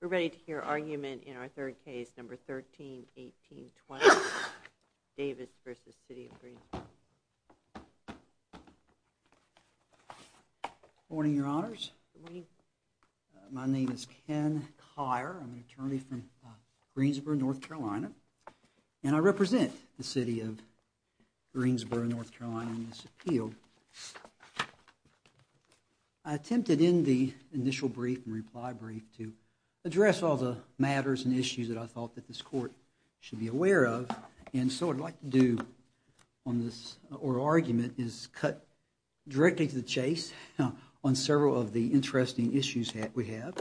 We're ready to hear argument in our third case, number 13-18-20, Davis v. City of Greensboro. Good morning, your honors. My name is Ken Kier. I'm an attorney from Greensboro, North Carolina, and I represent the City of Greensboro, North Carolina in this appeal. I attempted in the initial brief and reply brief to address all the matters and issues that I thought that this court should be aware of, and so what I'd like to do on this oral argument is cut directly to the chase on several of the interesting issues that we have,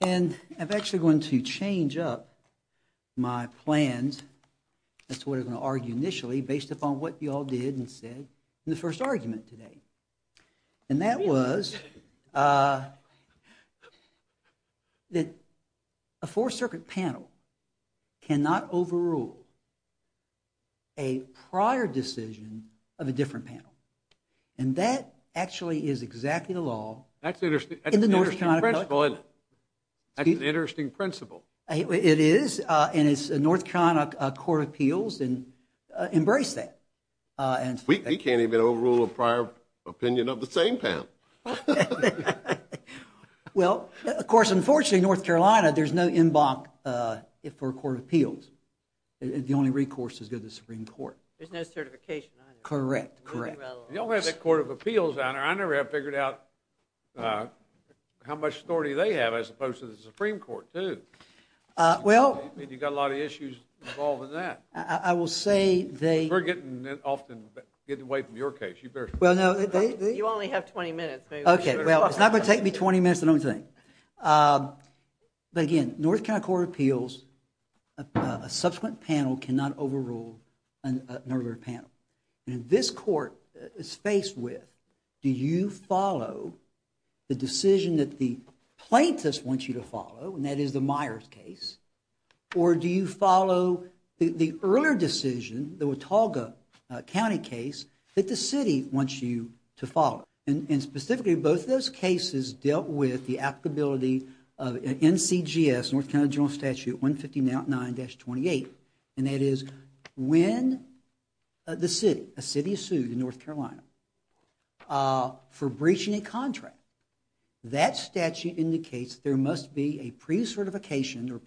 and I'm actually going to change up my plans as to what I'm going to argue initially based upon what you all did and said in the first argument today, and that was that a four-circuit panel cannot overrule a prior decision of a different panel, and that actually is exactly the law in the North Carolina court of appeals. That's an interesting principle, isn't it? Embrace that. We can't even overrule a prior opinion of the same panel. Well, of course, unfortunately, in North Carolina, there's no en banc for a court of appeals. The only recourse is to go to the Supreme Court. There's no certification either. Correct, correct. You don't have a court of appeals, your honor. I never have figured out how much authority they have as opposed to the Supreme Court, too. You've got a lot of issues involved in that. We're getting away from your case. You only have 20 minutes. Okay, well, it's not going to take me 20 minutes, I don't think. But again, North Carolina court of appeals, a subsequent panel cannot overrule an earlier panel, and this court is faced with, do you follow the decision that the plaintiffs want you to follow, and that is the Myers case, or do you follow the earlier decision, the Watauga County case, that the city wants you to follow. And specifically, both those cases dealt with the applicability of NCGS, North Carolina General Statute 159-28, and that is when the city, a city is sued in North Carolina for breaching a contract, that statute indicates there must be a pre-certification or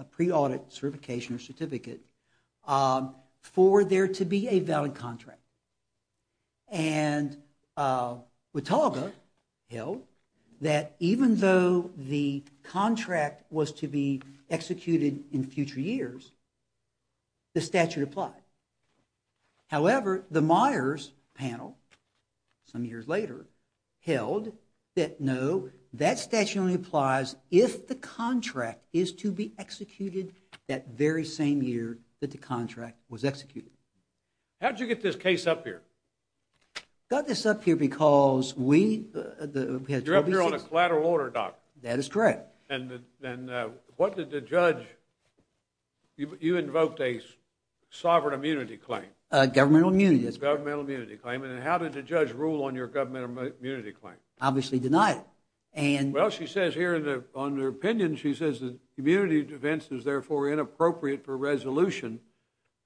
a pre-audit certification or certificate for there to be a valid contract. And Watauga held that even though the contract was to be executed in future years, the statute applied. However, the Myers panel, some years later, held that no, that statute only applies if the contract is to be executed that very same year that the contract was executed. How did you get this case up here? Got this up here because we, we had 26... You're up here on a collateral order, doc. That is correct. And what did the judge, you invoked a sovereign immunity claim. Governmental immunity. Governmental immunity claim, and how did the judge rule on your governmental immunity claim? Obviously denied it, and... Well, she says here on her opinion, she says that community defense is therefore inappropriate for resolution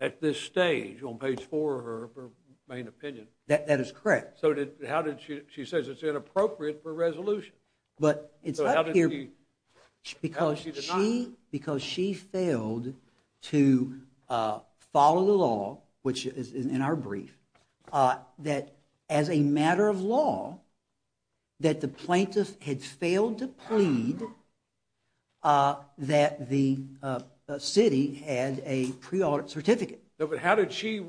at this stage, on page four of her main opinion. That is correct. So how did she, she says it's inappropriate for resolution. But it's up here because she, because she failed to follow the law, which is in our brief, that as a matter of law, that the plaintiff had failed to plead that the city had a pre-audit certificate. No, but how did she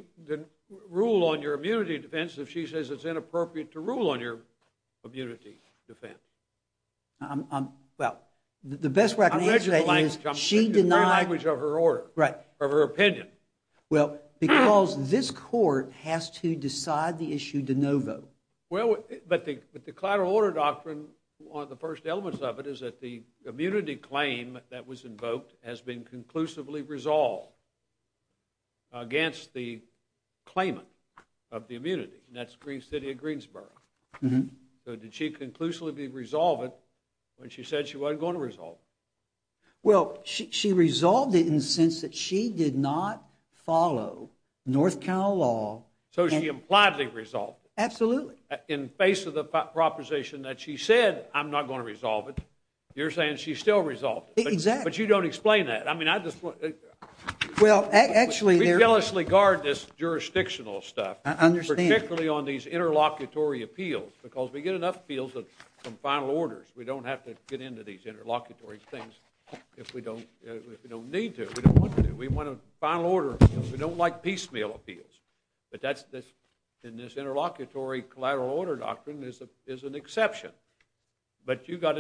rule on your immunity defense if she says it's inappropriate to rule on your immunity defense? I'm, I'm, well, the best way I can answer that is... I read you the language. She denied... The language of her order. Right. Of her opinion. Well, because this court has to decide the issue de novo. Well, but the collateral order doctrine, one of the first elements of it is that the immunity claim that was invoked has been conclusively resolved against the claimant of the immunity, and that's the city of Greensboro. So did she conclusively resolve it when she said she wasn't going to resolve it? Well, she resolved it in the sense that she did not follow North Carolina law... So she impliedly resolved it. Absolutely. In face of the proposition that she said, I'm not going to resolve it, you're saying she still resolved it. Exactly. But you don't explain that. I mean, I just want... Well, actually... We jealously guard this jurisdictional stuff. I understand. Particularly on these interlocutory appeals, because we get enough appeals from final orders. We don't have to get into these interlocutory things if we don't, if we don't need to. We don't want to. We want a final order because we don't like piecemeal appeals. But that's, in this interlocutory collateral order doctrine, is an exception. But you've got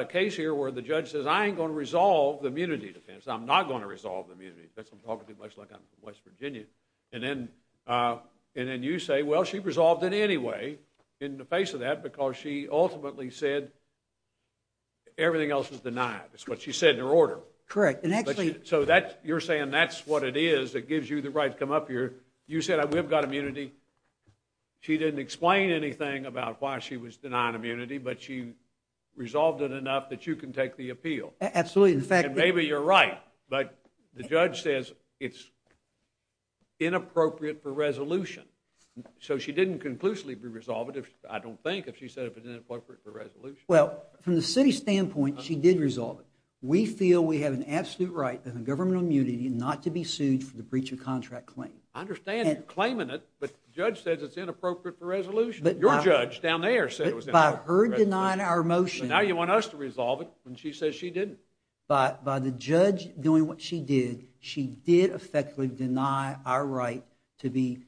a case here where the judge says, I ain't going to resolve the immunity defense. I'm not going to resolve the immunity defense. I'm talking to you much like I'm from West Virginia. And then you say, well, she resolved it anyway, in the face of that, because she ultimately said everything else is denied. That's what she said in her order. Correct. And actually... So you're saying that's what it is that gives you the right to come up here. You said, we've got immunity. She didn't explain anything about why she was denying immunity, but she resolved it enough that you can take the appeal. Absolutely. And maybe you're right, but the judge says it's inappropriate for resolution. So she didn't conclusively resolve it, I don't think, if she said it was inappropriate for resolution. Well, from the city's standpoint, she did resolve it. We feel we have an absolute right on governmental immunity not to be sued for the breach of contract claim. I understand you're claiming it, but the judge says it's inappropriate for resolution. Your judge down there said it was inappropriate for resolution. But by her denying our motion... But now you want us to resolve it when she says she didn't. But by the judge doing what she did, she did effectively deny our right to be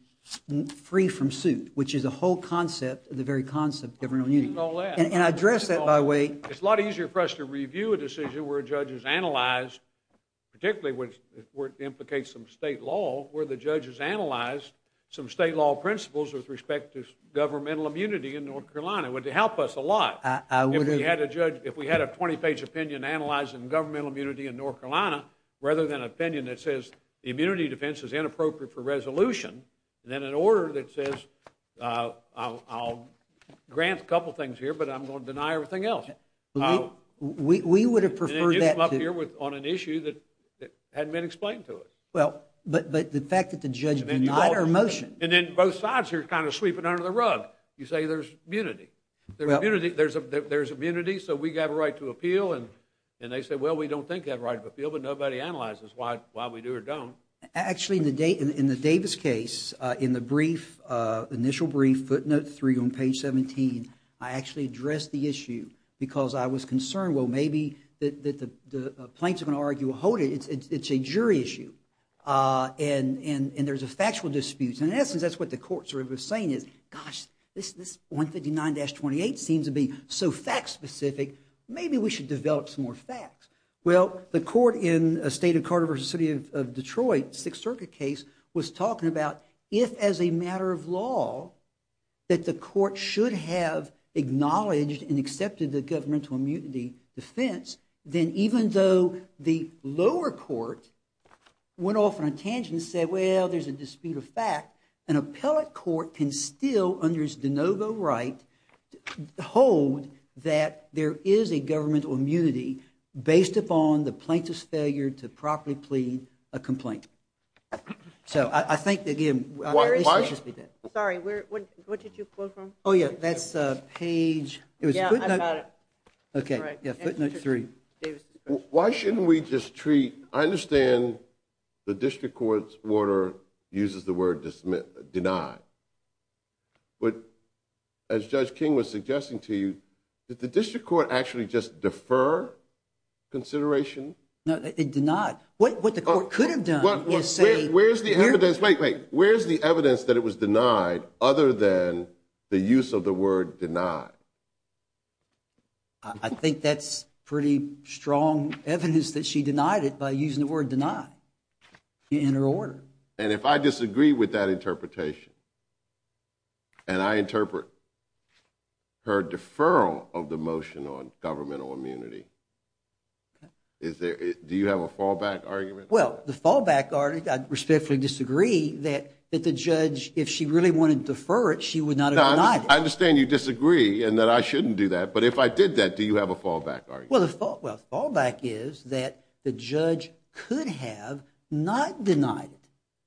free from suit, which is the whole concept of the very concept of governmental immunity. And I address that, by the way... It's a lot easier for us to review a decision where a judge has analyzed, particularly where it implicates some state law, where the judge has analyzed some state law principles with respect to governmental immunity in North Carolina. It would help us a lot if we had a 20-page opinion analyzing governmental immunity in North Carolina rather than an opinion that says the immunity defense is inappropriate for resolution, and then an order that says, I'll grant a couple things here, but I'm going to deny everything else. We would have preferred that to... And then you come up here on an issue that hadn't been explained to us. But the fact that the judge denied our motion... And then both sides are kind of sweeping under the rug. You say there's immunity. There's immunity, so we have a right to appeal, and they say, well, we don't think we have a right to appeal, but nobody analyzes why we do or don't. Actually, in the Davis case, in the brief, initial brief, footnote 3 on page 17, I actually addressed the issue because I was concerned, well, maybe the plaintiffs are going to argue, well, hold it. It's a jury issue, and there's a factual dispute. And in essence, that's what the court was saying is, gosh, this 159-28 seems to be so fact-specific. Maybe we should develop some more facts. Well, the court in the state of Carter v. City of Detroit, Sixth Circuit case, was talking about if as a matter of law that the court should have acknowledged and accepted the governmental immunity defense, then even though the lower court went off on a tangent and said, well, there's a dispute of fact, an appellate court can still, under its de novo right, hold that there is a governmental immunity based upon the plaintiff's failure to properly plead a complaint. So I think, again... Sorry, what did you quote from? Oh, yeah, that's page... Yeah, I've got it. Okay, footnote 3. Why shouldn't we just treat... I understand the district court's order uses the word deny. But as Judge King was suggesting to you, did the district court actually just defer consideration? It did not. What the court could have done is say... Wait, wait, where's the evidence that it was denied other than the use of the word deny? I think that's pretty strong evidence that she denied it by using the word deny in her order. And if I disagree with that interpretation and I interpret her deferral of the motion on governmental immunity, do you have a fallback argument? Well, the fallback argument, I respectfully disagree that the judge, if she really wanted to defer it, she would not have denied it. I understand you disagree and that I shouldn't do that. But if I did that, do you have a fallback argument? Well, the fallback is that the judge could have not denied it.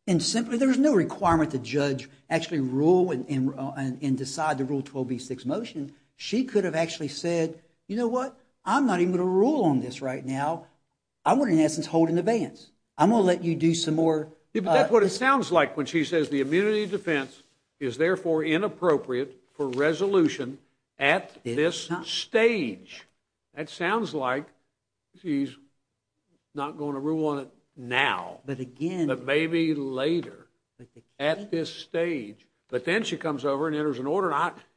And simply there's no requirement the judge actually rule and decide the Rule 12b-6 motion. She could have actually said, you know what, I'm not even going to rule on this right now. I want to, in essence, hold an advance. I'm going to let you do some more. But that's what it sounds like when she says the immunity defense is therefore inappropriate for resolution at this stage. That sounds like she's not going to rule on it now. But again... But maybe later at this stage. But then she comes over and enters an order.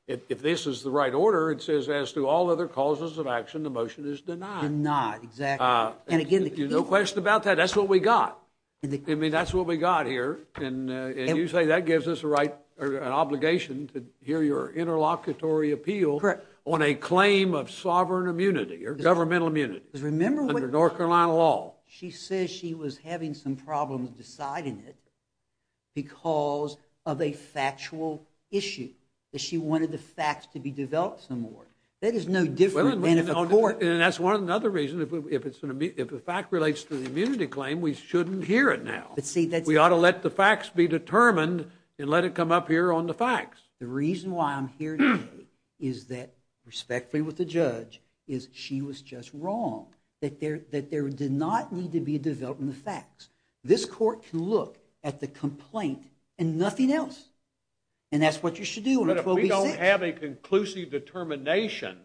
If this is the right order, it says as to all other causes of action, the motion is denied. Denied, exactly. And again, the key... No question about that. That's what we got. I mean, that's what we got here. And you say that gives us an obligation to hear your interlocutory appeal on a claim of sovereign immunity or governmental immunity under North Carolina law. She says she was having some problems deciding it because of a factual issue, that she wanted the facts to be developed some more. That is no different than if a court... And that's another reason, if the fact relates to the immunity claim, we shouldn't hear it now. We ought to let the facts be determined and let it come up here on the facts. The reason why I'm here today is that, respectfully with the judge, is she was just wrong. That there did not need to be a development of facts. This court can look at the complaint and nothing else. And that's what you should do. But if we don't have a conclusive determination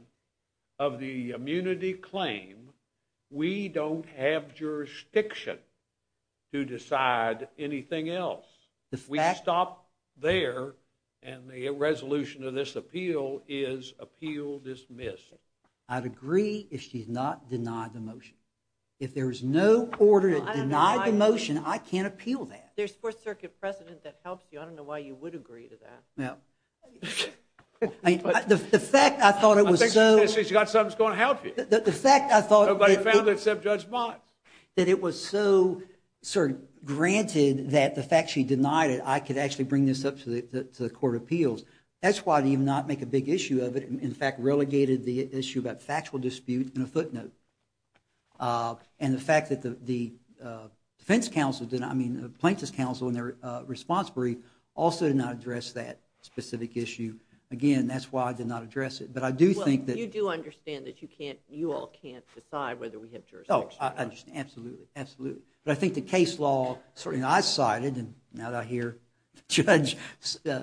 of the immunity claim, we don't have jurisdiction to decide anything else. We stop there and the resolution of this appeal is appeal dismissed. I'd agree if she's not denied the motion. If there's no order to deny the motion, I can't appeal that. There's fourth circuit precedent that helps you. I don't know why you would agree to that. The fact I thought it was so... I think she's got something that's going to help you. The fact I thought... Nobody found it except Judge Bonitz. That it was so granted that the fact she denied it, I could actually bring this up to the court of appeals. That's why I didn't even make a big issue of it. In fact, relegated the issue about factual dispute in a footnote. And the fact that the defense counsel... I mean, the plaintiff's counsel and their response brief also did not address that specific issue. Again, that's why I did not address it. But I do think that... Well, you do understand that you all can't decide whether we have jurisdiction or not. Absolutely. But I think the case law... I cited and now I hear the judge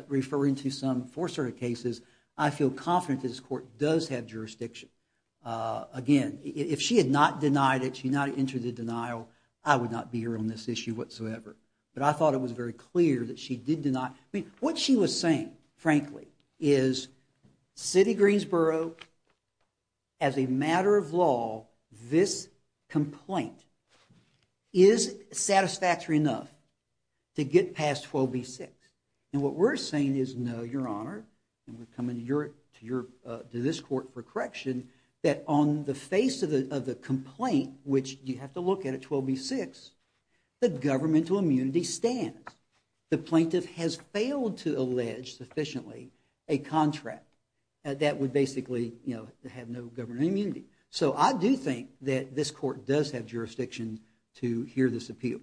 referring to some fourth circuit cases. I feel confident this court does have jurisdiction. Again, if she had not denied it, she had not entered the denial, I would not be here on this issue whatsoever. But I thought it was very clear that she did deny... I mean, what she was saying, frankly, is city of Greensboro, as a matter of law, this complaint is satisfactory enough to get past 12b-6. And what we're saying is, no, your honor, and we're coming to this court for correction, that on the face of the complaint, which you have to look at at 12b-6, the governmental immunity stands. The plaintiff has failed to allege sufficiently a contract that would basically have no governmental immunity. So I do think that this court does have jurisdiction to hear this appeal.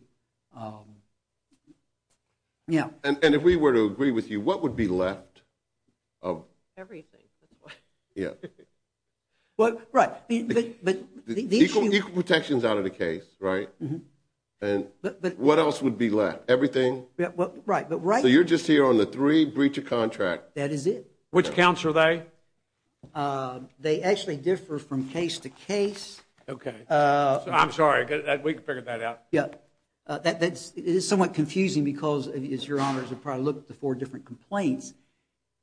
Yeah. And if we were to agree with you, what would be left of... Everything. Yeah. Right. Equal protections out of the case, right? And what else would be left? Everything? Right. So you're just here on the three breach of contract. That is it. Which counts are they? They actually differ from case to case. Okay. I'm sorry, we can figure that out. Yeah. That is somewhat confusing because, as your honors have probably looked at the four different complaints,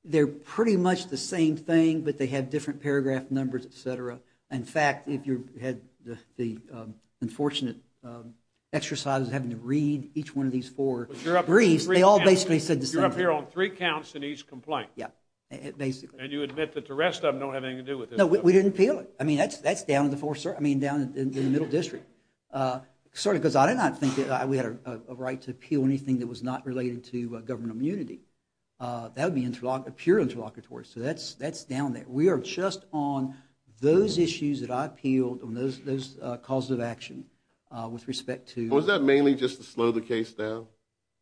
they're pretty much the same thing, but they have different paragraph numbers, et cetera. In fact, if you had the unfortunate exercise of having to read each one of these four briefs, they all basically said the same thing. You're up here on three counts in each complaint. Yeah, basically. And you admit that the rest of them don't have anything to do with this. No, we didn't appeal it. I mean, that's down in the middle district. Sorry, because I did not think that we had a right to appeal anything that was not related to government immunity. That would be pure interlocutory. So that's down there. We are just on those issues that I appealed on those calls of action with respect to – Was that mainly just to slow the case down?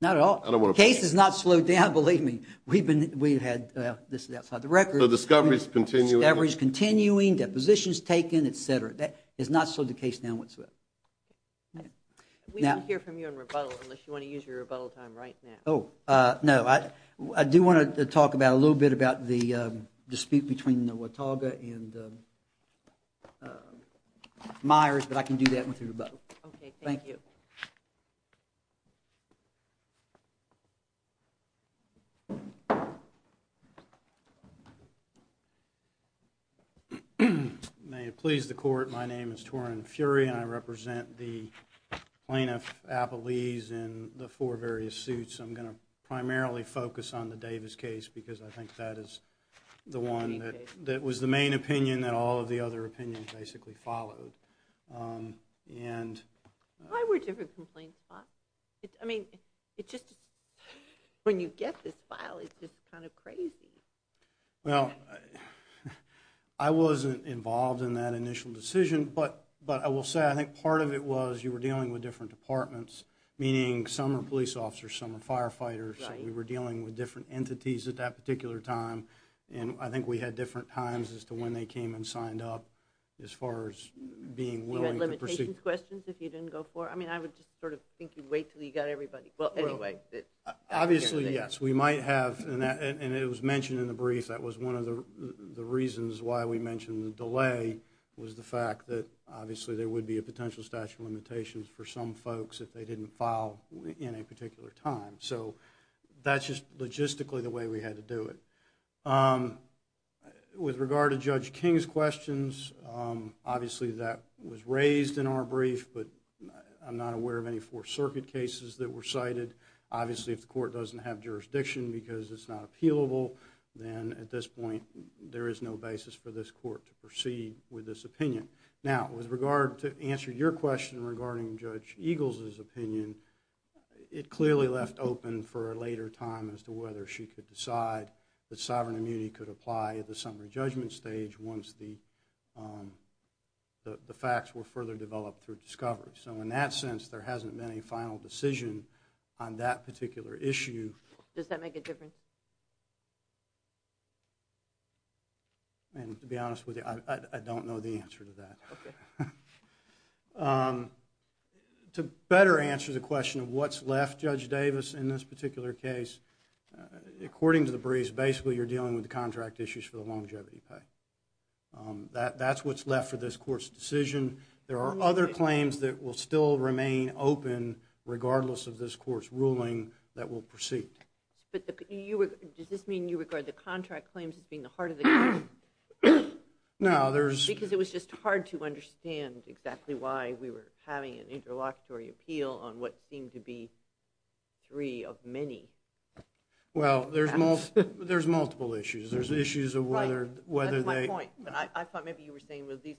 Not at all. The case has not slowed down, believe me. We've had – this is outside the record. So the discovery is continuing. The discovery is continuing. Deposition is taken, et cetera. That has not slowed the case down whatsoever. We won't hear from you in rebuttal unless you want to use your rebuttal time right now. Oh, no. I do want to talk a little bit about the dispute between the Watauga and Myers, but I can do that with rebuttal. Okay, thank you. Thank you. May it please the Court, my name is Torin Fury, and I represent the plaintiff, Appleese, in the four various suits. I'm going to primarily focus on the Davis case because I think that is the one that was the main opinion that all of the other opinions basically followed. Why were different complaints filed? I mean, when you get this file, it's just kind of crazy. Well, I wasn't involved in that initial decision, but I will say I think part of it was you were dealing with different departments, meaning some are police officers, some are firefighters. We were dealing with different entities at that particular time, and I think we had different times as to when they came and signed up as far as being willing to proceed. You had limitations questions if you didn't go for it? I mean, I would just sort of think you'd wait until you got everybody. Well, anyway. Obviously, yes. We might have, and it was mentioned in the brief, that was one of the reasons why we mentioned the delay was the fact that, obviously, there would be a potential statute of limitations for some folks if they didn't file in a particular time. So that's just logistically the way we had to do it. With regard to Judge King's questions, obviously that was raised in our brief, but I'm not aware of any Fourth Circuit cases that were cited. Obviously, if the court doesn't have jurisdiction because it's not appealable, then at this point there is no basis for this court to proceed with this opinion. Now, with regard to answering your question regarding Judge Eagles' opinion, it clearly left open for a later time as to whether she could decide that sovereign immunity could apply at the summary judgment stage once the facts were further developed through discovery. So in that sense, there hasn't been a final decision on that particular issue. Does that make a difference? And to be honest with you, I don't know the answer to that. Okay. To better answer the question of what's left, Judge Davis, in this particular case, according to the briefs, basically you're dealing with the contract issues for the longevity pay. That's what's left for this court's decision. There are other claims that will still remain open regardless of this court's ruling that will proceed. Does this mean you regard the contract claims as being the heart of the case? No. Because it was just hard to understand exactly why we were having an interlocutory appeal on what seemed to be three of many. Well, there's multiple issues. That's my point. I thought maybe you were saying these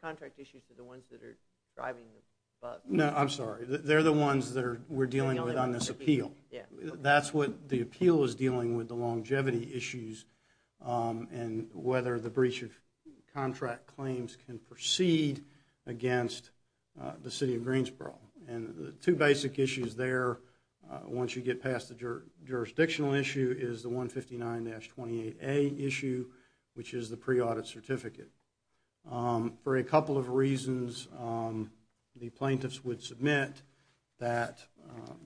contract issues are the ones that are driving the bug. No, I'm sorry. They're the ones that we're dealing with on this appeal. That's what the appeal is dealing with, the longevity issues, and whether the breach of contract claims can proceed against the city of Greensboro. And the two basic issues there, once you get past the jurisdictional issue, is the 159-28A issue, which is the pre-audit certificate. For a couple of reasons, the plaintiffs would submit that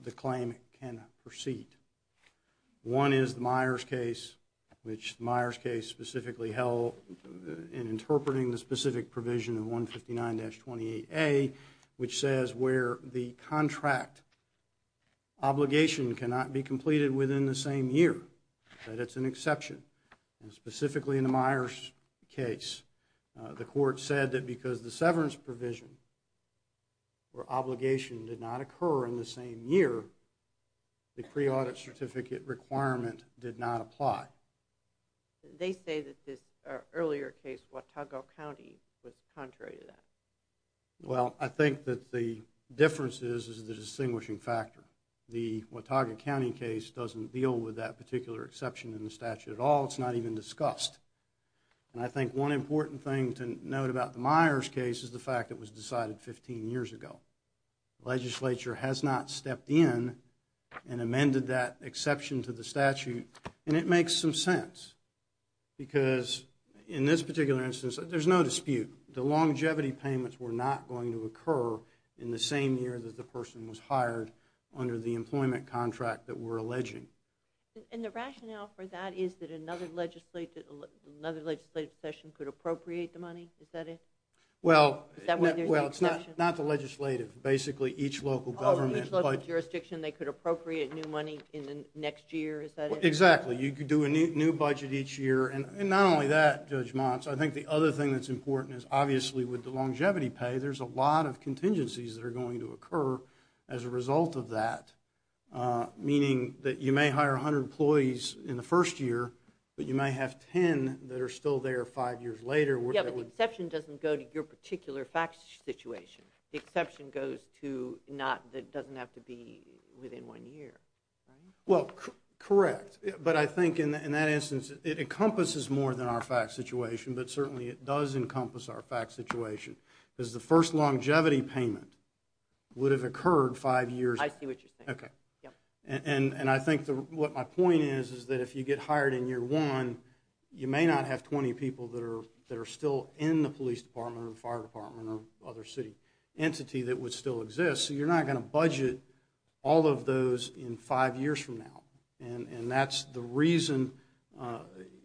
the claim can proceed. One is the Myers case, which the Myers case specifically held in interpreting the specific provision of 159-28A, which says where the contract obligation cannot be completed within the same year, that it's an exception. And specifically in the Myers case, the court said that because the severance provision or obligation did not occur in the same year, the pre-audit certificate requirement did not apply. They say that this earlier case, Watauga County, was contrary to that. Well, I think that the difference is the distinguishing factor. The Watauga County case doesn't deal with that particular exception in the statute at all. It's not even discussed. And I think one important thing to note about the Myers case is the fact that it was decided 15 years ago. The legislature has not stepped in and amended that exception to the statute, and it makes some sense. Because in this particular instance, there's no dispute. The longevity payments were not going to occur in the same year that the person was hired under the employment contract that we're alleging. And the rationale for that is that another legislative session could appropriate the money? Is that it? Well, it's not the legislative. Basically, each local government. Oh, each local jurisdiction, they could appropriate new money in the next year? Is that it? Exactly. You could do a new budget each year. And not only that, Judge Motz, I think the other thing that's important is obviously with the longevity pay, there's a lot of contingencies that are going to occur as a result of that, meaning that you may hire 100 employees in the first year, but you may have 10 that are still there five years later. Yeah, but the exception doesn't go to your particular fact situation. The exception goes to not that doesn't have to be within one year, right? Well, correct. But I think in that instance, it encompasses more than our fact situation, but certainly it does encompass our fact situation. Because the first longevity payment would have occurred five years. I see what you're saying. Okay. And I think what my point is is that if you get hired in year one, you may not have 20 people that are still in the police department or the fire department or other city entity that would still exist, so you're not going to budget all of those in five years from now. And that's the reason,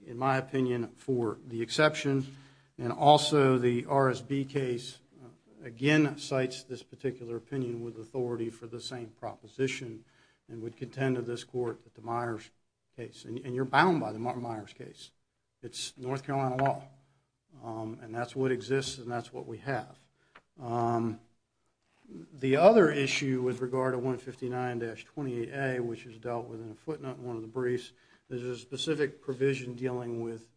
in my opinion, for the exception. And also the RSB case, again, cites this particular opinion with authority for the same proposition and would contend to this court that the Myers case, and you're bound by the Myers case, it's North Carolina law, and that's what exists and that's what we have. The other issue with regard to 159-28A, which is dealt with in a footnote in one of the briefs, there's a specific provision dealing with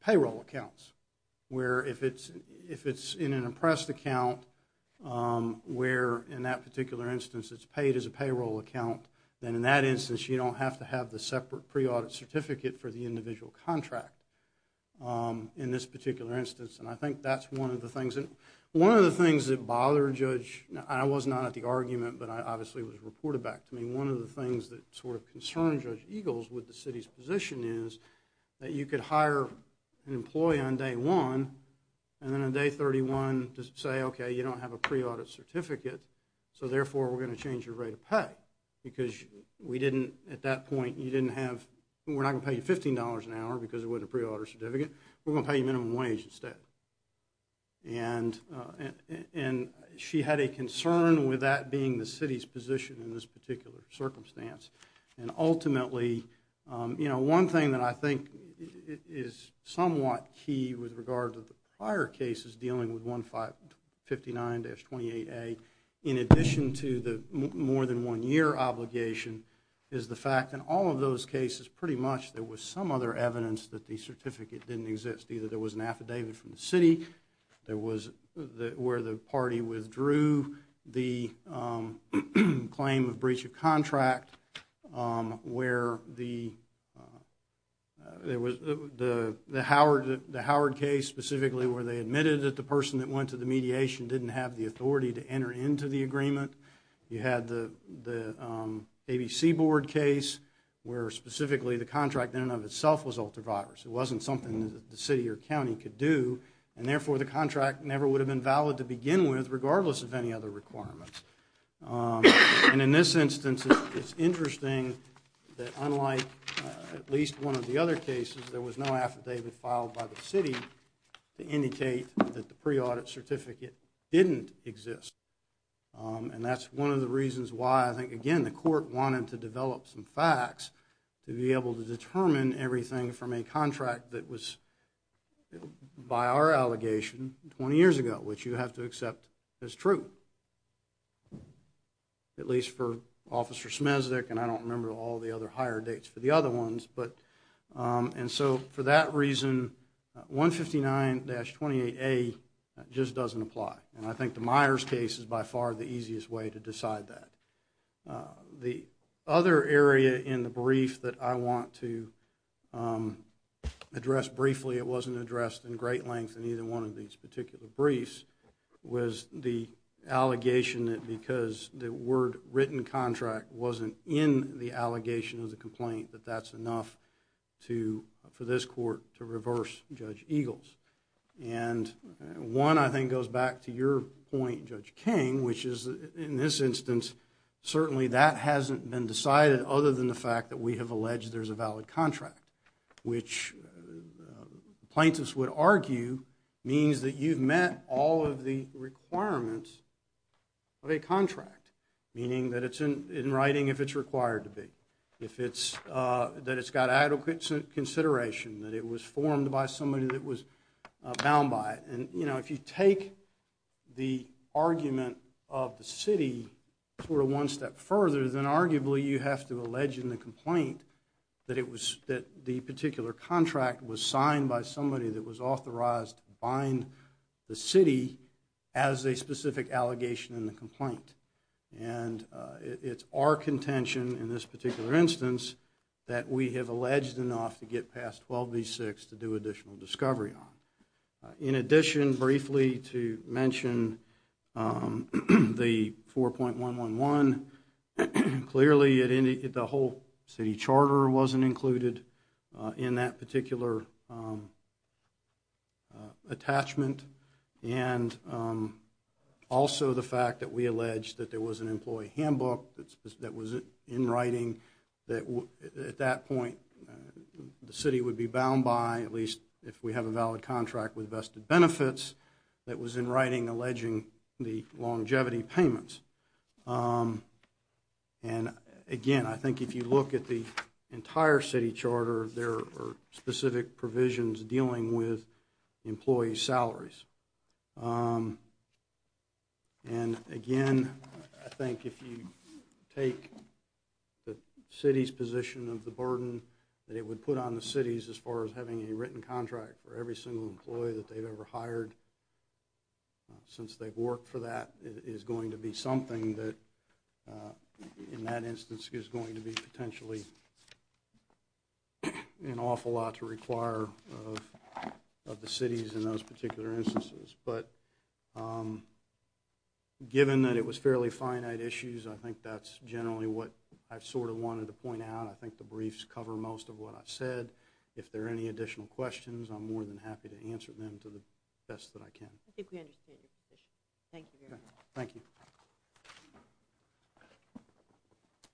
payroll accounts, where if it's in an impressed account where, in that particular instance, it's paid as a payroll account, then in that instance you don't have to have the separate pre-audit certificate for the individual contract in this particular instance. And I think that's one of the things that bothered Judge... I was not at the argument, but I obviously was reported back to me. One of the things that sort of concerned Judge Eagles with the city's position is that you could hire an employee on day one, and then on day 31 just say, okay, you don't have a pre-audit certificate, so therefore we're going to change your rate of pay because at that point we're not going to pay you $15 an hour because it wasn't a pre-audit certificate, we're going to pay you minimum wage instead. And she had a concern with that being the city's position in this particular circumstance. And ultimately, you know, one thing that I think is somewhat key with regard to the prior cases dealing with 159-28A, in addition to the more than one year obligation, is the fact that in all of those cases pretty much there was some other evidence that the certificate didn't exist. Either there was an affidavit from the city, there was where the party withdrew the claim of breach of contract, where the Howard case specifically where they admitted that the person that went to the mediation didn't have the authority to enter into the agreement. You had the ABC board case where specifically the contract in and of itself was ultra-virus. It wasn't something that the city or county could do and therefore the contract never would have been valid to begin with regardless of any other requirements. And in this instance it's interesting that unlike at least one of the other cases, there was no affidavit filed by the city to indicate that the pre-audit certificate didn't exist. And that's one of the reasons why I think, again, the court wanted to develop some facts to be able to determine everything from a contract that was, by our allegation, 20 years ago, which you have to accept as true. At least for Officer Smezdek and I don't remember all the other higher dates for the other ones. And so for that reason 159-28A just doesn't apply. And I think the Myers case is by far the easiest way to decide that. The other area in the brief that I want to address briefly, it wasn't addressed in great length in either one of these particular briefs, was the allegation that because the word written contract wasn't in the allegation of the complaint that that's enough for this court to reverse Judge Eagles. And one, I think, goes back to your point, Judge King, which is in this instance certainly that hasn't been decided other than the fact that we have alleged there's a valid contract, which plaintiffs would argue means that you've met all of the requirements of a contract, meaning that it's in writing if it's required to be, that it's got adequate consideration, that it was formed by somebody that was bound by it. And if you take the argument of the city sort of one step further, then arguably you have to allege in the complaint that the particular contract was signed by somebody that was authorized to bind the city as a specific allegation in the complaint. And it's our contention in this particular instance that we have alleged enough to get past 12B6 to do additional discovery on. In addition, briefly, to mention the 4.111, clearly the whole city charter wasn't included in that particular attachment, and also the fact that we allege that there was an employee handbook that was in writing that at that point the city would be bound by, at least if we have a valid contract with vested benefits, that was in writing alleging the longevity payments. And again, I think if you look at the entire city charter, there are specific provisions dealing with employee salaries. And again, I think if you take the city's position of the burden that it would put on the cities as far as having a written contract for every single employee that they've ever hired, since they've worked for that, it is going to be something that in that instance is going to be potentially an awful lot to require of the cities in those particular instances. But given that it was fairly finite issues, I think that's generally what I've sort of wanted to point out. I think the briefs cover most of what I've said. If there are any additional questions, I'm more than happy to answer them to the best that I can. I think we understand your position. Thank you very much.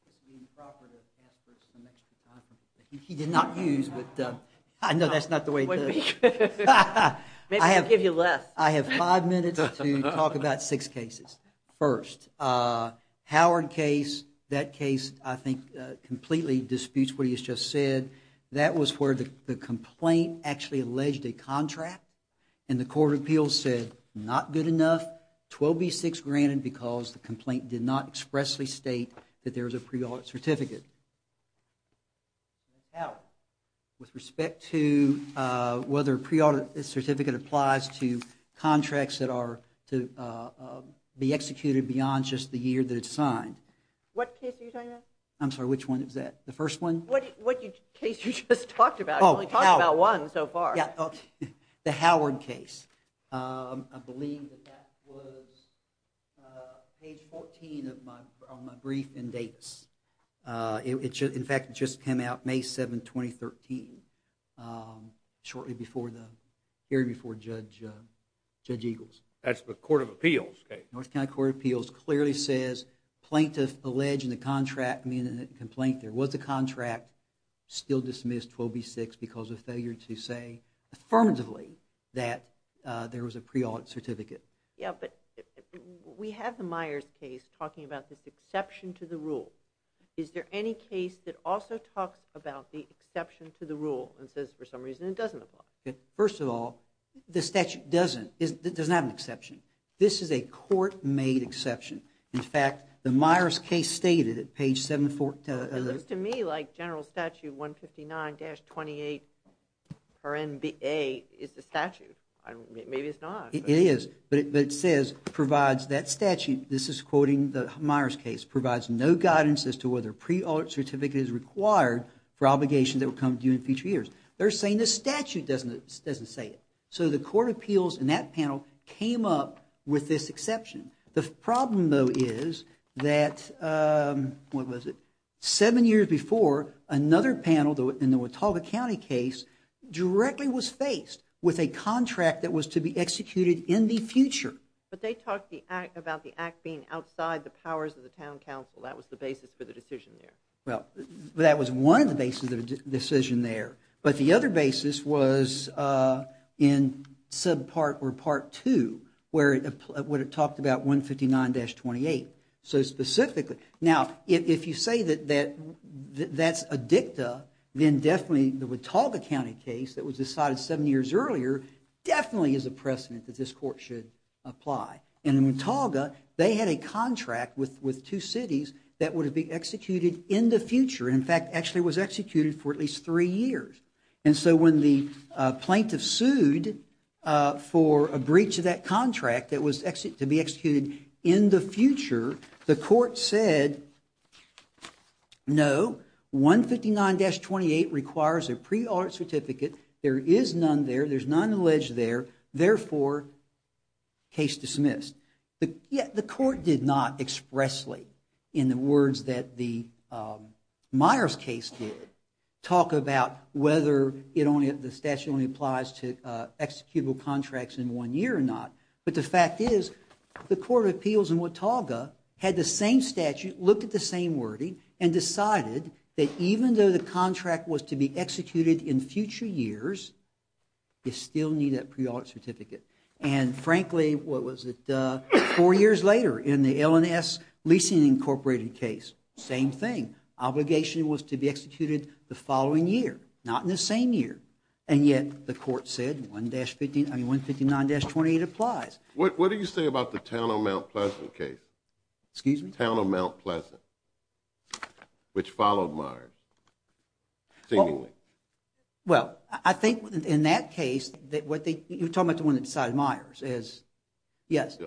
This would be improper to ask for some extra time from you. He did not use, but I know that's not the way it is. Maybe he'll give you less. I have five minutes to talk about six cases. First, Howard case, that case I think completely disputes what he has just said. That was where the complaint actually alleged a contract and the court of appeals said not good enough, 12B6 granted because the complaint did not expressly state that there was a pre-audit certificate. Howard, with respect to whether a pre-audit certificate applies to contracts that are to be executed beyond just the year that it's signed. What case are you talking about? I'm sorry, which one is that? The first one? What case you just talked about. You only talked about one so far. The Howard case. I believe that that was page 14 of my brief in Davis. In fact, it just came out May 7, 2013, shortly before the hearing before Judge Eagles. That's the court of appeals case. North Carolina Court of Appeals clearly says plaintiff alleged in the complaint there was a contract still dismissed 12B6 because of failure to say affirmatively that there was a pre-audit certificate. Yeah, but we have the Myers case talking about this exception to the rule. Is there any case that also talks about the exception to the rule and says for some reason it doesn't apply? First of all, the statute doesn't. It doesn't have an exception. This is a court-made exception. In fact, the Myers case stated at page 74... R-N-B-A is the statute. Maybe it's not. It is, but it says provides that statute. This is quoting the Myers case. Provides no guidance as to whether a pre-audit certificate is required for obligations that will come due in future years. They're saying the statute doesn't say it. So the court of appeals in that panel came up with this exception. The problem, though, is that... What was it? Seven years before, another panel in the Watauga County case directly was faced with a contract that was to be executed in the future. But they talked about the act being outside the powers of the town council. That was the basis for the decision there. Well, that was one of the bases of the decision there. But the other basis was in subpart or part 2 where it talked about 159-28. Now, if you say that that's a dicta, then definitely the Watauga County case that was decided seven years earlier definitely is a precedent that this court should apply. In Watauga, they had a contract with two cities that would be executed in the future. In fact, it actually was executed for at least three years. And so when the plaintiff sued for a breach of that contract that was to be executed in the future, the court said, no, 159-28 requires a pre-order certificate. There is none there. There's none alleged there. Therefore, case dismissed. The court did not expressly, in the words that the Myers case did, talk about whether the statute only applies to executable contracts in one year or not. But the fact is, the Court of Appeals in Watauga had the same statute, looked at the same wording, and decided that even though the contract was to be executed in future years, you still need that pre-order certificate. And frankly, what was it, four years later in the L&S Leasing Incorporated case, same thing. Obligation was to be executed the following year, not in the same year. And yet, the court said, 159-28 applies. What do you say about the Town of Mount Pleasant case? Excuse me? Town of Mount Pleasant, which followed Myers, seemingly. Well, I think in that case, you're talking about the one that decided Myers. Yes.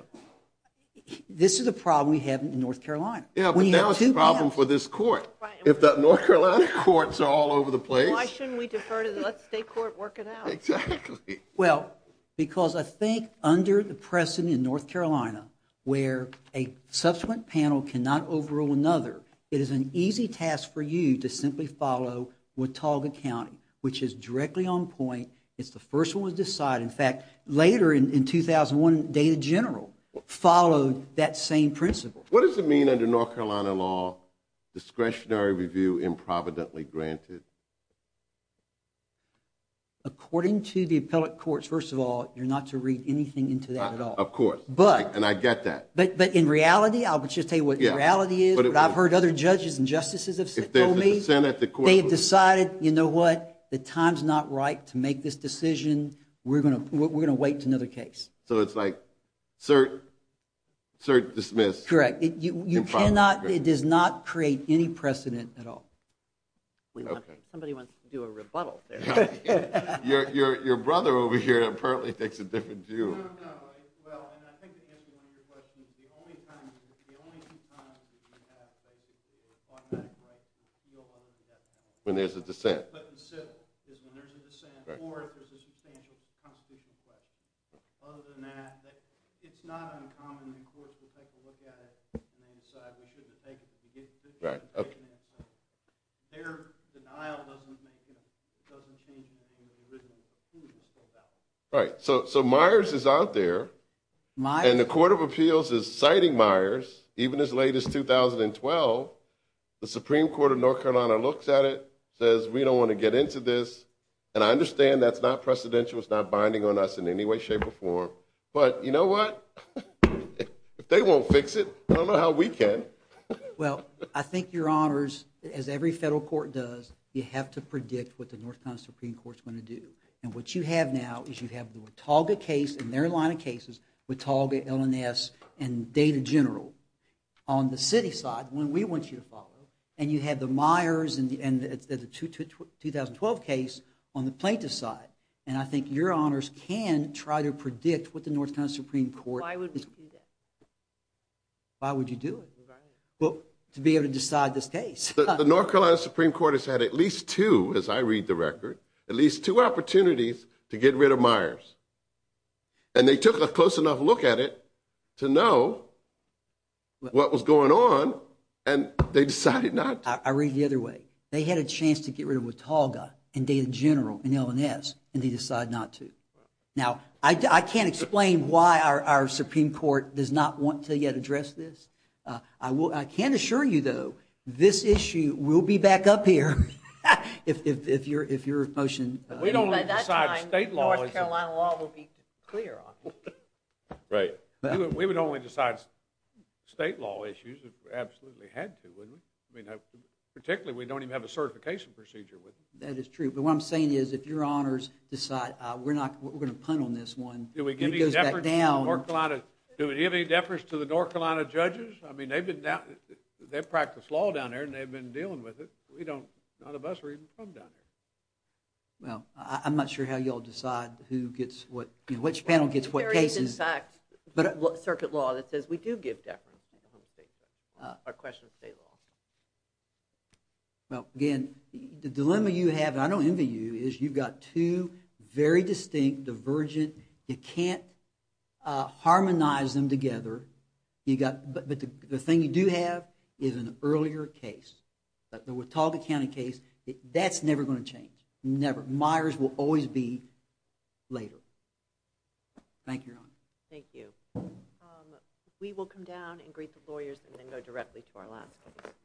This is a problem we have in North Carolina. Yeah, but now it's a problem for this court. If the North Carolina courts are all over the place. Why shouldn't we defer to the state court to work it out? Exactly. Well, because I think under the precedent in North Carolina, where a subsequent panel cannot overrule another, it is an easy task for you to simply follow Watauga County, which is directly on point. It's the first one to decide. In fact, later in 2001, Data General followed that same principle. What does it mean under North Carolina law, discretionary review improvidently granted? According to the appellate courts, first of all, you're not to read anything into that at all. Of course. And I get that. But in reality, I'll just tell you what the reality is. But I've heard other judges and justices have told me they've decided, you know what, the time's not right to make this decision. We're going to wait until another case. So it's like cert, cert, dismiss. Correct. It does not create any precedent at all. Somebody wants to do a rebuttal there. Your brother over here apparently takes a different view. No, no. Well, and I think to answer one of your questions, the only two times that you have, basically, the automatic right to appeal when there's a dissent. But in civil, is when there's a dissent or if there's a substantial constitutional claim. Other than that, it's not uncommon in courts where people take a look at it and decide we shouldn't have taken it. Their denial doesn't change anything than the original conclusion spoke out. Right. So Myers is out there. And the Court of Appeals is citing Myers, even as late as 2012. The Supreme Court of North Carolina looks at it, says we don't want to get into this. And I understand that's not precedential. It's not binding on us in any way, shape, or form. But you know what? If they won't fix it, I don't know how we can. Well, I think, your honors, as every federal court does, you have to predict what the North Carolina Supreme Court is going to do. And what you have now is you have the Watauga case and their line of cases, Watauga, LNS, and Data General. On the city side, the one we want you to follow, and you have the Myers and the 2012 case on the plaintiff's side. And I think your honors can try to predict what the North Carolina Supreme Court is going to do. Why would you do it? To be able to decide this case. The North Carolina Supreme Court has had at least two, as I read the record, at least two opportunities to get rid of Myers. And they took a close enough look at it to know what was going on. And they decided not to. I read it the other way. They had a chance to get rid of Watauga and Data General and LNS. And they decided not to. Now, I can't explain why our Supreme Court does not want to yet address this. I can assure you, though, this issue will be back up here if your motion. We don't decide state law. By that time, North Carolina law will be clear on it. Right. We would only decide state law issues if we absolutely had to, wouldn't we? I mean, particularly, we don't even have a certification procedure, would we? That is true. But what I'm saying is, if your honors decide, we're going to punt on this one, and it goes back down. Do we give any deference to the North Carolina judges? I mean, they practice law down there, and they've been dealing with it. None of us are even from down there. Well, I'm not sure how you'll decide which panel gets what cases. There is, in fact, circuit law that says we do give deference on the question of state law. Well, again, the dilemma you have, and I don't envy you, is you've got two very distinct, divergent, you can't harmonize them together. But the thing you do have is an earlier case. The Watauga County case, that's never going to change. Never. Myers will always be later. Thank you, Your Honor. Thank you. We will come down and greet the lawyers, and then go directly to our last panel.